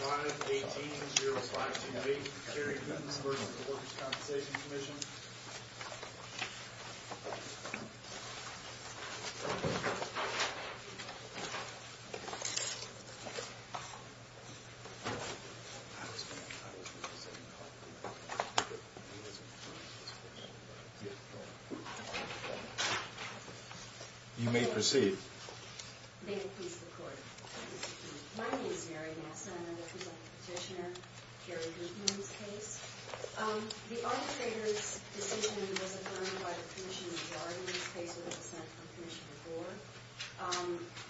518-052B, Kerry Hootens v. The Workers' Compensation Commission You may proceed. May the peace of the court be with you. My name is Mary Massa. I'm the representative petitioner for Kerry Hooten's case. The arbitrator's decision was affirmed by the Commissioner of the Art in this case, with a dissent from Commissioner Gore.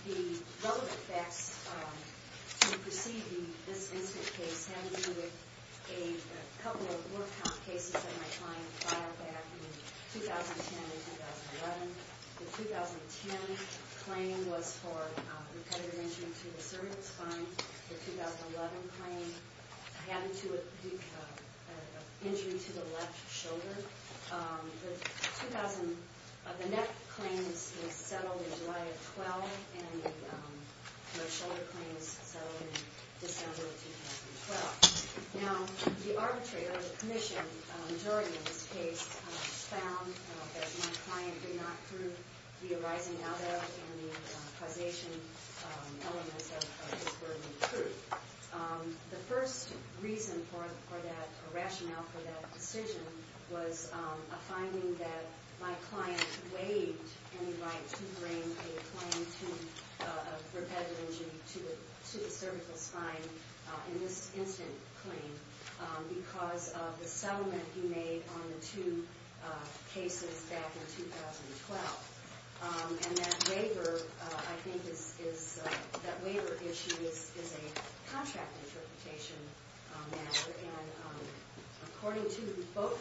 The relevant facts to be perceived in this incident case have to do with a couple of more count cases that my client filed back in 2010 and 2011. The 2010 claim was for repetitive injury to the cervical spine. The 2011 claim had to do with injury to the left shoulder. The 2000, the neck claim was settled in July of 12, and the shoulder claim was settled in December of 2012. Now, the arbitrator, the Commission, during this case, found that my client did not prove the arising out of and the causation elements of his burden of proof. The first reason for that, or rationale for that decision, was a finding that my client waived any right to bring a claim to repetitive injury to the cervical spine in this incident claim because of the settlement he made on the two cases back in 2012. And that waiver, I think, is, that waiver issue is a contract interpretation matter. And according to both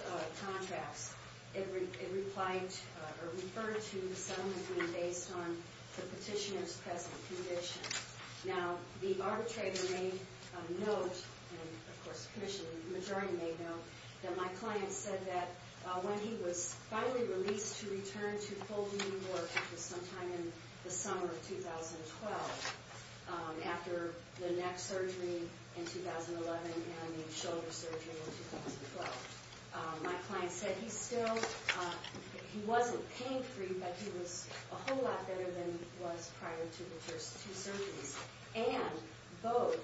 contracts, it referred to the settlement being based on the petitioner's present condition. Now, the arbitrator made a note, and of course the Commission, the majority made a note, that my client said that when he was finally released to return to full New York, which was sometime in the summer of 2012, after the neck surgery in 2011 and the shoulder surgery in 2012, my client said he still, he wasn't pain-free, but he was a whole lot better than he was prior to the first two surgeries. And both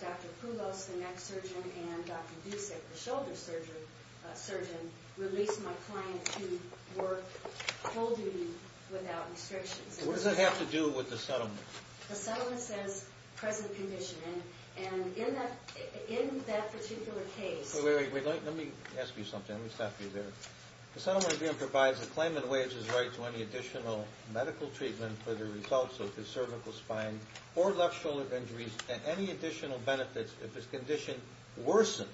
Dr. Poulos, the neck surgeon, and Dr. Dusik, the shoulder surgeon, released my client to work full duty without restrictions. What does that have to do with the settlement? The settlement says present condition, and in that particular case... Wait, wait, wait. Let me ask you something. Let me stop you there. The settlement again provides a claimant wages right to any additional medical treatment for the results of his cervical spine or left shoulder injuries and any additional benefits if his condition worsens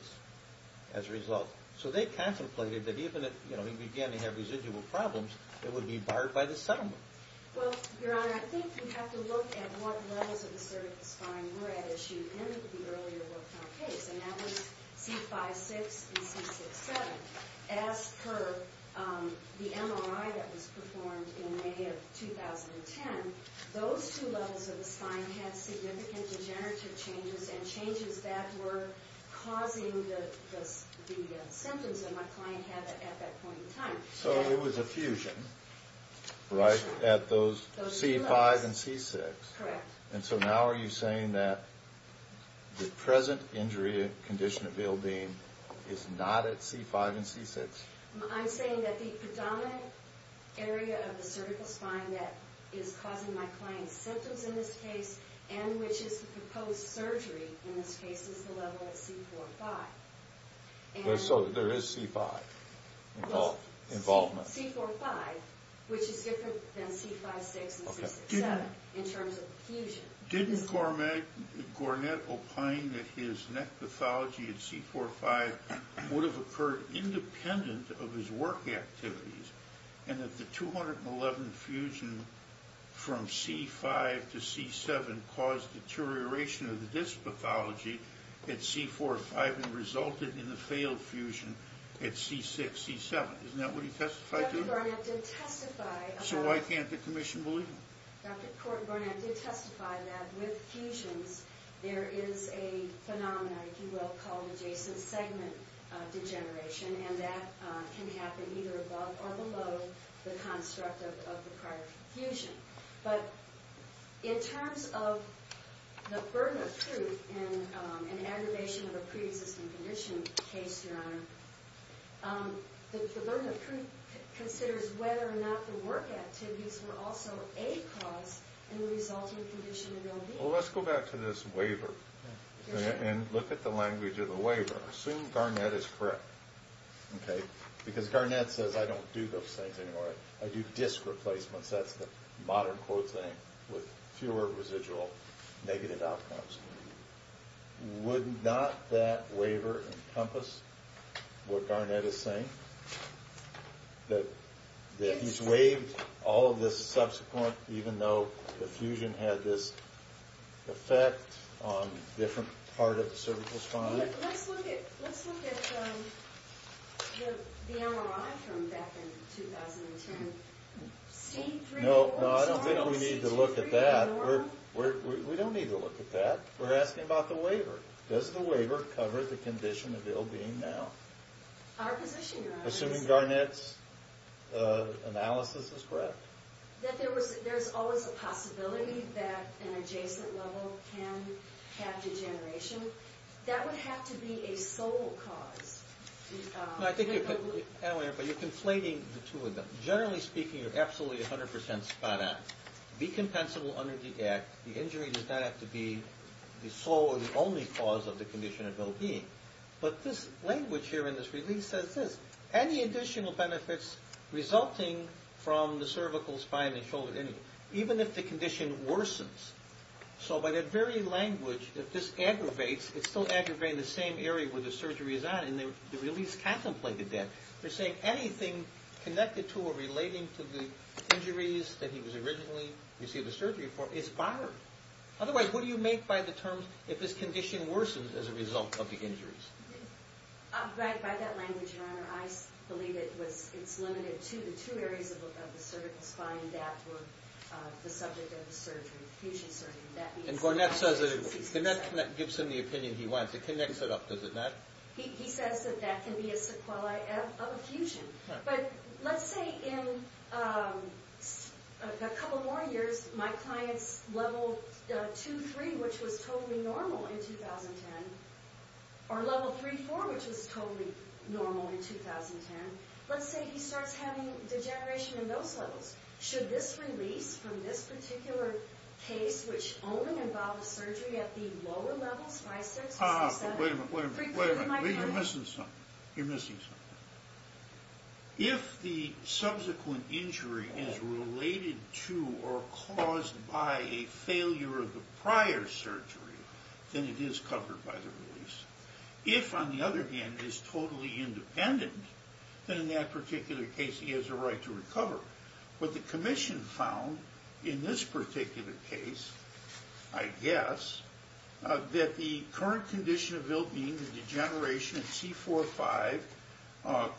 as a result. So they contemplated that even if, you know, he began to have residual problems, it would be barred by the settlement. Well, Your Honor, I think you have to look at what levels of the cervical spine were at issue in the earlier workman case, and that was C5-6 and C6-7. As per the MRI that was performed in May of 2010, those two levels of the spine had significant degenerative changes and changes that were causing the symptoms that my client had at that point in time. So it was a fusion, right, at those C5 and C6. Correct. And so now are you saying that the present injury condition of ill-being is not at C5 and C6? I'm saying that the predominant area of the cervical spine that is causing my client's symptoms in this case and which is the proposed surgery in this case is the level at C4-5. So there is C5 involvement? C4-5, which is different than C5-6 and C6-7 in terms of fusion. Didn't Gornett opine that his neck pathology at C4-5 would have occurred independent of his work activities and that the 211 fusion from C5 to C7 caused deterioration of the disc pathology at C4-5 and resulted in the failed fusion at C6-C7? Isn't that what he testified to? Dr. Gornett did testify about it. So why can't the Commission believe him? Dr. Kort and Gornett did testify that with fusions, there is a phenomenon, if you will, called adjacent segment degeneration, and that can happen either above or below the construct of the prior fusion. But in terms of the burden of truth in an aggravation of a pre-existing condition case, Your Honor, the burden of truth considers whether or not the work activities were also a cause and resulted in the condition in real being. Well, let's go back to this waiver and look at the language of the waiver. Assume Gornett is correct, okay? Because Gornett says, I don't do those things anymore. I do disc replacements. That's the modern quote thing with fewer residual negative outcomes. Would not that waiver encompass what Gornett is saying, that he's waived all of this subsequent, even though the fusion had this effect on a different part of the cervical spine? Let's look at the MRI from back in 2010. C3? No, I don't think we need to look at that. We don't need to look at that. We're asking about the waiver. Does the waiver cover the condition of ill being now? Our position, Your Honor. Assuming Gornett's analysis is correct. That there's always a possibility that an adjacent level can have degeneration. That would have to be a sole cause. I think you're conflating the two of them. Generally speaking, you're absolutely 100% spot on. Be compensable under the act. The injury does not have to be the sole or the only cause of the condition of ill being. But this language here in this release says this. Any additional benefits resulting from the cervical spine and shoulder injury, even if the condition worsens. So by that very language, if this aggravates, it's still aggravating the same area where the surgery is on, and the release contemplated that. You're saying anything connected to or relating to the injuries that he was originally receiving surgery for is barred. Otherwise, what do you make by the terms, if his condition worsens as a result of the injuries? By that language, Your Honor, I believe it's limited to the two areas of the cervical spine that were the subject of the fusion surgery. And Gornett gives him the opinion he wants. It connects it up, does it not? He says that that can be a sequelae of a fusion. But let's say in a couple more years, my client's level 2-3, which was totally normal in 2010, or level 3-4, which was totally normal in 2010. Let's say he starts having degeneration in those levels. Should this release from this particular case, which only involves surgery at the lower levels, 5-6 or 6-7, Wait a minute, wait a minute, wait a minute. You're missing something. You're missing something. If the subsequent injury is related to or caused by a failure of the prior surgery, then it is covered by the release. If, on the other hand, it is totally independent, then in that particular case he has a right to recover. What the commission found in this particular case, I guess, that the current condition of ill-being, the degeneration at C-4-5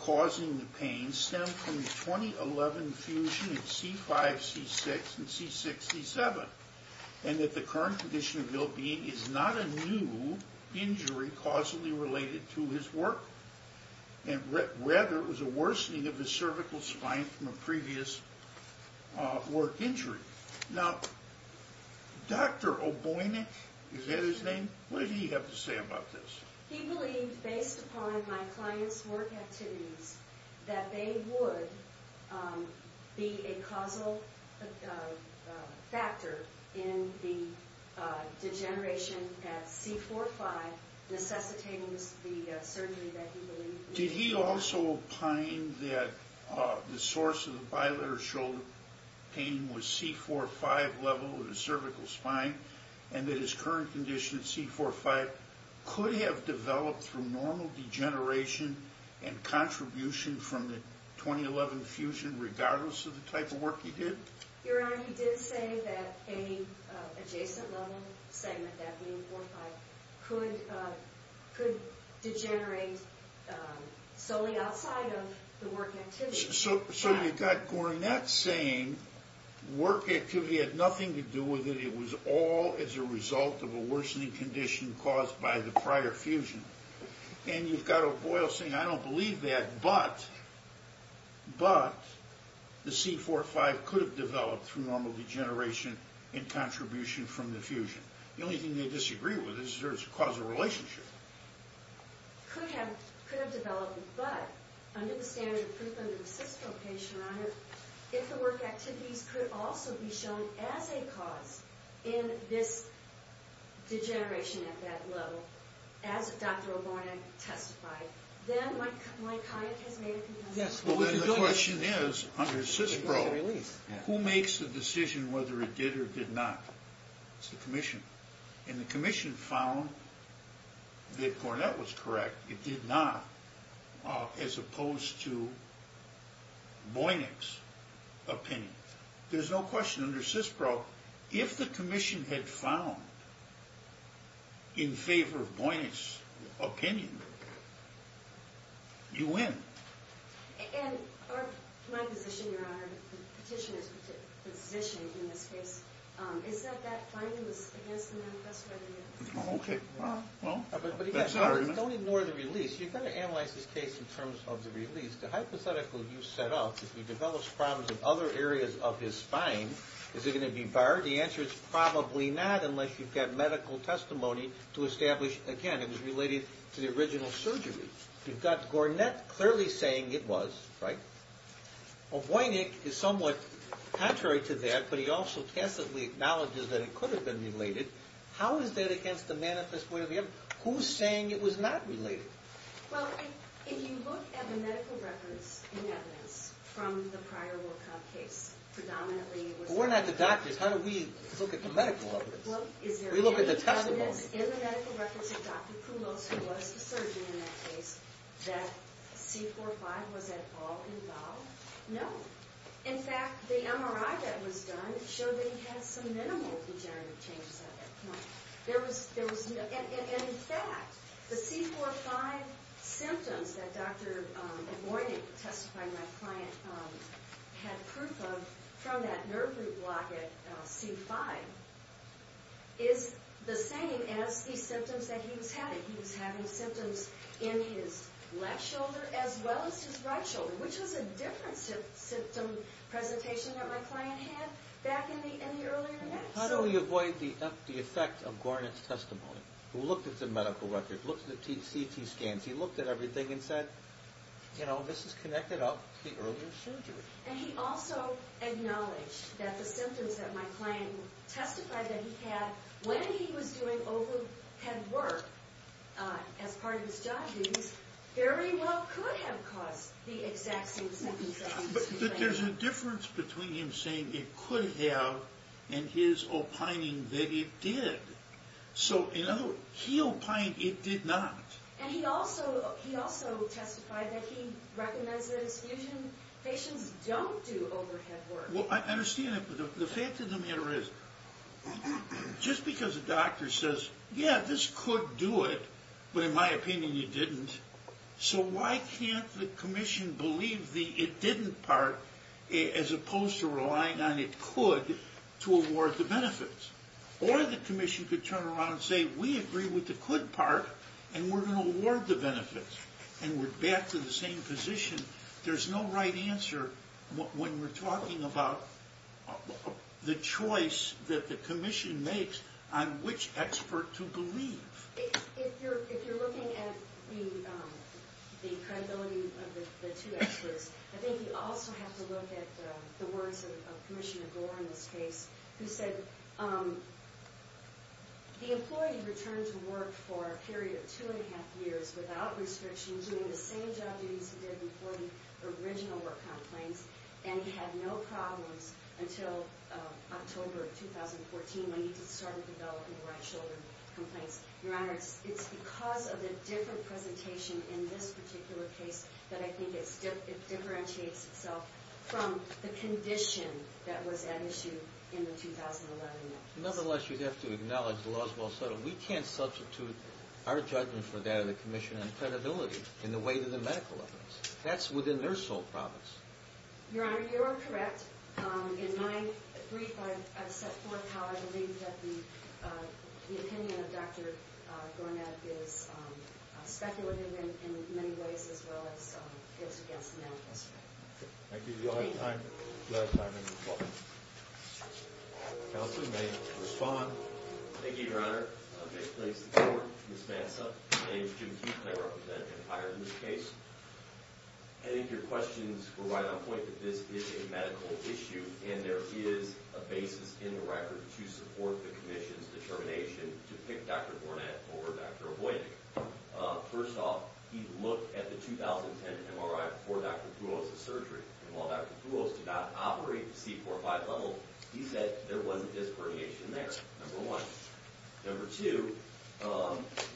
causing the pain, stemmed from the 2011 fusion at C-5-C-6 and C-6-C-7, and that the current condition of ill-being is not a new injury causally related to his work, and rather it was a worsening of the cervical spine from a previous work injury. Now, Dr. Oboinik, is that his name? What did he have to say about this? He believed, based upon my client's work activities, that they would be a causal factor in the degeneration at C-4-5, necessitating the surgery that he believed. Did he also opine that the source of the bilateral shoulder pain was C-4-5 level of the cervical spine, and that his current condition at C-4-5 could have developed through normal degeneration and contribution from the 2011 fusion, regardless of the type of work he did? Your Honor, he did say that any adjacent level segment, that being C-4-5, could degenerate solely outside of the work activity. So you've got Gornett saying work activity had nothing to do with it, it was all as a result of a worsening condition caused by the prior fusion. And you've got O'Boyle saying, I don't believe that, but the C-4-5 could have developed through normal degeneration and contribution from the fusion. The only thing they disagree with is there's a causal relationship. Could have developed, but under the standard of proof under a CISPRO patient, Your Honor, if the work activities could also be shown as a cause in this degeneration at that level, as Dr. O'Bornett testified, then my client has made a conclusion. Yes, well then the question is, under CISPRO, who makes the decision whether it did or did not? It's the Commission. And the Commission found that Gornett was correct. It did not, as opposed to Boynik's opinion. There's no question under CISPRO, if the Commission had found in favor of Boynik's opinion, you win. And my position, Your Honor, petitioner's position in this case, is that that finding was against the manifesto idea? Okay, well, that's not our intent. You don't ignore the release. You've got to analyze this case in terms of the release. The hypothetical you set up, if he develops problems in other areas of his spine, is it going to be barred? The answer is probably not, unless you've got medical testimony to establish, again, it was related to the original surgery. You've got Gornett clearly saying it was, right? Boynik is somewhat contrary to that, but he also tacitly acknowledges that it could have been related. How is that against the manifesto idea? Who's saying it was not related? Well, if you look at the medical records and evidence from the prior Wilcox case, predominantly it was... But we're not the doctors. How do we look at the medical evidence? We look at the testimony. Is there evidence in the medical records of Dr. Poulos, who was the surgeon in that case, that C4-5 was at all involved? No. In fact, the MRI that was done showed that he had some minimal degenerative changes at that point. And, in fact, the C4-5 symptoms that Dr. Boynik testified my client had proof of from that nerve root block at C5 is the same as the symptoms that he was having. He was having symptoms in his left shoulder as well as his right shoulder, which was a different symptom presentation that my client had back in the earlier days. How do we avoid the effect of Gornett's testimony? Who looked at the medical records, looked at the CT scans, he looked at everything and said, you know, this is connected up to the earlier surgery. And he also acknowledged that the symptoms that my client testified that he had when he was doing overhead work as part of his job duties very well could have caused the exact same symptoms that he was having. But there's a difference between him saying it could have and his opining that it did. So, in other words, he opined it did not. And he also testified that he recommends that his patients don't do overhead work. Well, I understand that. But the fact of the matter is, just because a doctor says, yeah, this could do it, but in my opinion you didn't, so why can't the commission believe the it didn't part as opposed to relying on it could to award the benefits? Or the commission could turn around and say, we agree with the could part and we're going to award the benefits and we're back to the same position. There's no right answer when we're talking about the choice that the commission makes on which expert to believe. If you're looking at the credibility of the two experts, I think you also have to look at the words of Commissioner Gore in this case, who said, the employee returned to work for a period of two and a half years without restrictions, doing the same job that he used to do before the original work complaints, and he had no problems until October of 2014 when he started developing right shoulder complaints. Your Honor, it's because of the different presentation in this particular case that I think it differentiates itself from the condition that was at issue in the 2011 notice. Nonetheless, you have to acknowledge the law is well settled. We can't substitute our judgment for that of the commission on credibility in the way that the medical evidence. That's within their sole province. Your Honor, you are correct. In my brief, I've set forth how I believe that the opinion of Dr. Gornad is speculative in many ways as well as it's against the medical standard. Thank you. Do you all have time? If not, I'm going to close. Counsel may respond. Thank you, Your Honor. May it please the Court, Ms. Mansa. My name is Jim Keith, and I represent Empire in this case. I think your questions were right on point that this is a medical issue, and there is a basis in the record to support the commission's determination to pick Dr. Gornad over Dr. Avoy. First off, he looked at the 2010 MRI before Dr. Poulos' surgery, and while Dr. Poulos did not operate the C45 level, he said there wasn't disc herniation there, number one. Number two,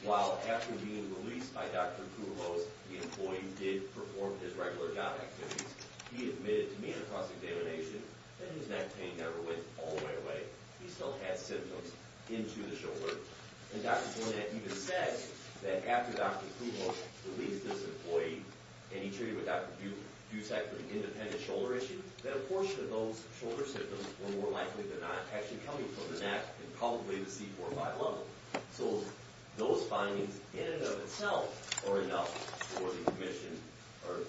while after being released by Dr. Poulos, the employee did perform his regular job activities, he admitted to me in a cross-examination that his neck pain never went all the way away. He still had symptoms into the shoulder. And Dr. Gornad even said that after Dr. Poulos released this employee and he treated with Dr. Butek for an independent shoulder issue, that a portion of those shoulder symptoms were more likely than not actually coming from the neck and probably the C45 level. So those findings in and of themselves are enough for the commission or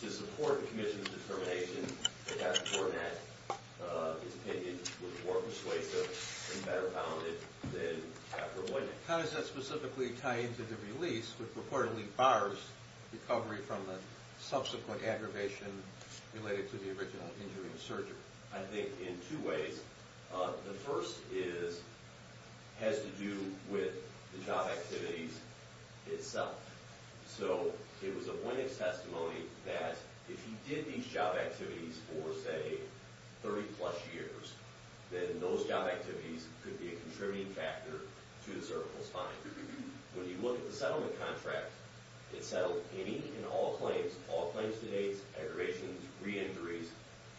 to support the commission's determination that Dr. Gornad is dependent, was more persuasive, and better founded than Dr. Avoy. How does that specifically tie into the release, which reportedly bars recovery from the subsequent aggravation related to the original injury and surgery? I think in two ways. The first has to do with the job activities itself. So it was Avoy's testimony that if he did these job activities for, say, 30-plus years, then those job activities could be a contributing factor to the cervical spine. When you look at the settlement contract, it settled any and all claims, all claims to date, aggravations, re-injuries,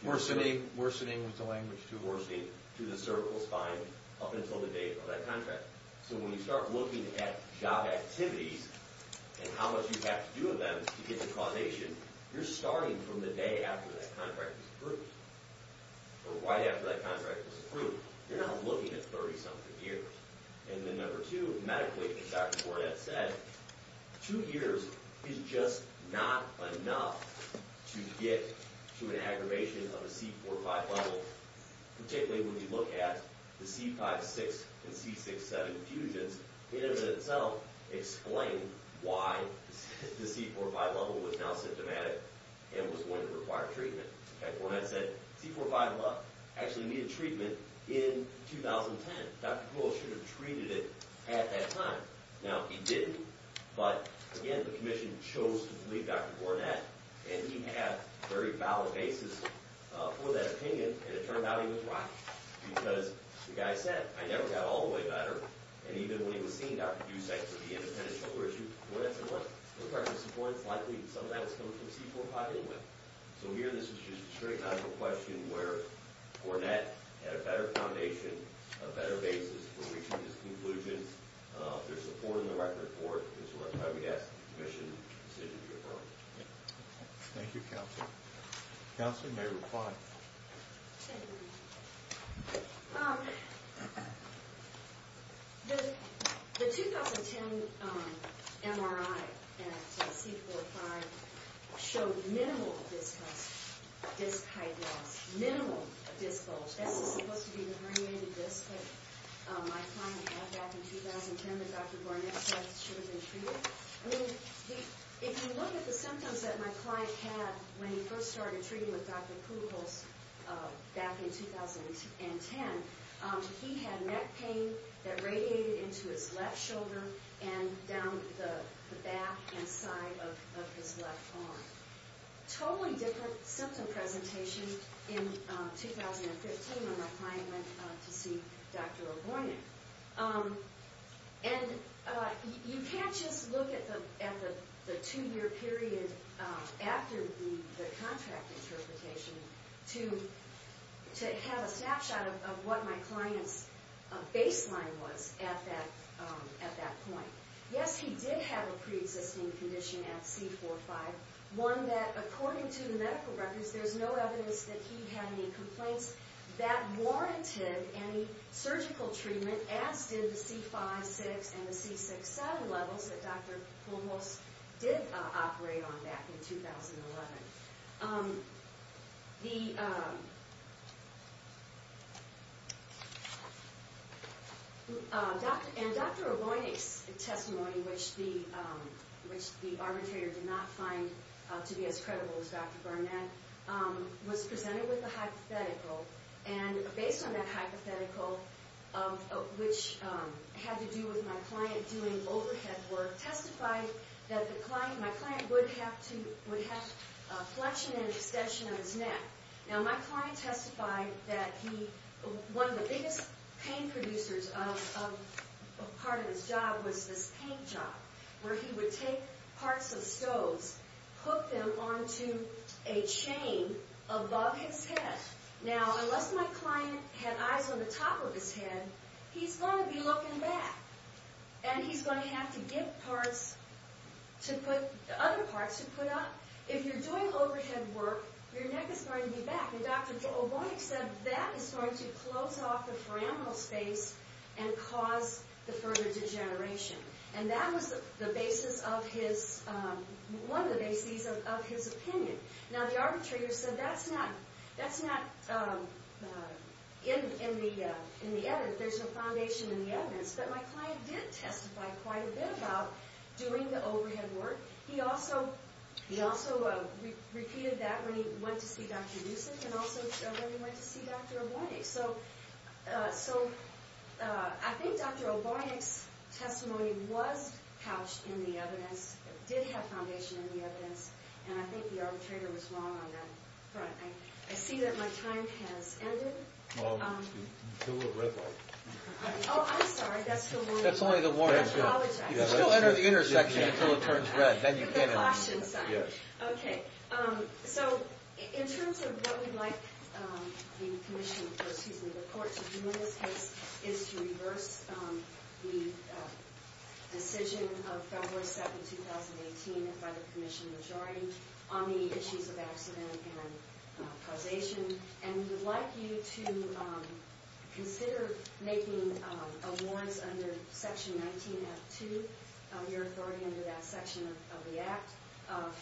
Worsening, worsening was the language too. Worsening to the cervical spine up until the date of that contract. So when you start looking at job activities and how much you have to do with them to get to causation, you're starting from the day after that contract was approved or right after that contract was approved. You're not looking at 30-something years. And then number two, medically, as Dr. Gornad said, two years is just not enough to get to an aggravation of a C4-5 level, particularly when you look at the C5-6 and C6-7 fusions. It in and of itself explains why the C4-5 level was now symptomatic and was going to require treatment. Okay, Gornad said C4-5 actually needed treatment in 2010. Dr. Poole should have treated it at that time. Now, he didn't, but again, the commission chose to believe Dr. Gornad, and he had very valid basis for that opinion, and it turned out he was right. Because the guy said, I never got all the way better, and even when he was seeing Dr. Dusek for the independent shoulder issue, Gornad said, what? This person's support is likely, and some of that is coming from C4-5 anyway. So here, this is just a straight-out of a question where Gornad had a better foundation, a better basis for reaching this conclusion. There's support in the record for it, and so that's why we asked the commission to consider the referral. Thank you, Counselor. Counselor, you may reply. Okay. The 2010 MRI at C4-5 showed minimal disc health, disc high-density, minimal disc bulge. This is supposed to be an herniated disc that my client had back in 2010 that Dr. Gornad said should have been treated. I mean, if you look at the symptoms that my client had when he first started treating with Dr. Kuhlholz back in 2010, he had neck pain that radiated into his left shoulder and down the back and side of his left arm. Totally different symptom presentation in 2015 when my client went to see Dr. O'Gornick. And you can't just look at the two-year period after the contract interpretation to have a snapshot of what my client's baseline was at that point. Yes, he did have a preexisting condition at C4-5, one that, according to the medical records, there's no evidence that he had any complaints that warranted any surgical treatment, as did the C5-6 and the C6-7 levels that Dr. Kuhlholz did operate on back in 2011. And Dr. O'Gornick's testimony, which the arbitrator did not find to be as credible as Dr. Gornad, was presented with a hypothetical. And based on that hypothetical, which had to do with my client doing overhead work, testified that my client would have flexion and extension of his neck. Now, my client testified that one of the biggest pain producers of part of his job was this paint job, where he would take parts of stoves, hook them onto a chain above his head. Now, unless my client had eyes on the top of his head, he's going to be looking back. And he's going to have to get parts to put... other parts to put up. If you're doing overhead work, your neck is going to be back. And Dr. O'Gornick said that is going to close off the foraminal space and cause the further degeneration. And that was the basis of his... one of the bases of his opinion. Now, the arbitrator said, that's not... In the edit, there's no foundation in the evidence. But my client did testify quite a bit about doing the overhead work. He also repeated that when he went to see Dr. Dusick and also when he went to see Dr. O'Gornick. So, I think Dr. O'Gornick's testimony was couched in the evidence. It did have foundation in the evidence. And I think the arbitrator was wrong on that front. I see that my time has ended. Well, until the red light. Oh, I'm sorry. That's the warning. That's only the warning. If you still enter the intersection until it turns red, then you can't enter. The caution sign. Yes. Okay. So, in terms of what we'd like the commission... excuse me, the court to do in this case is to reverse the decision of February 7, 2018 by the commission majority on the issues of accident and causation. And we would like you to consider making a warrant under Section 19F2, your authority under that section of the Act,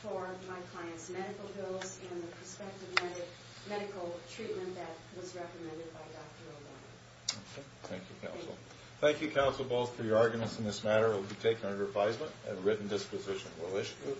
for my client's medical bills and the prospective medical treatment that was recommended by Dr. O'Gornick. Okay. Thank you, counsel. Thank you, counsel, both for your arguments in this matter. It will be taken under advisement. A written disposition will issue it.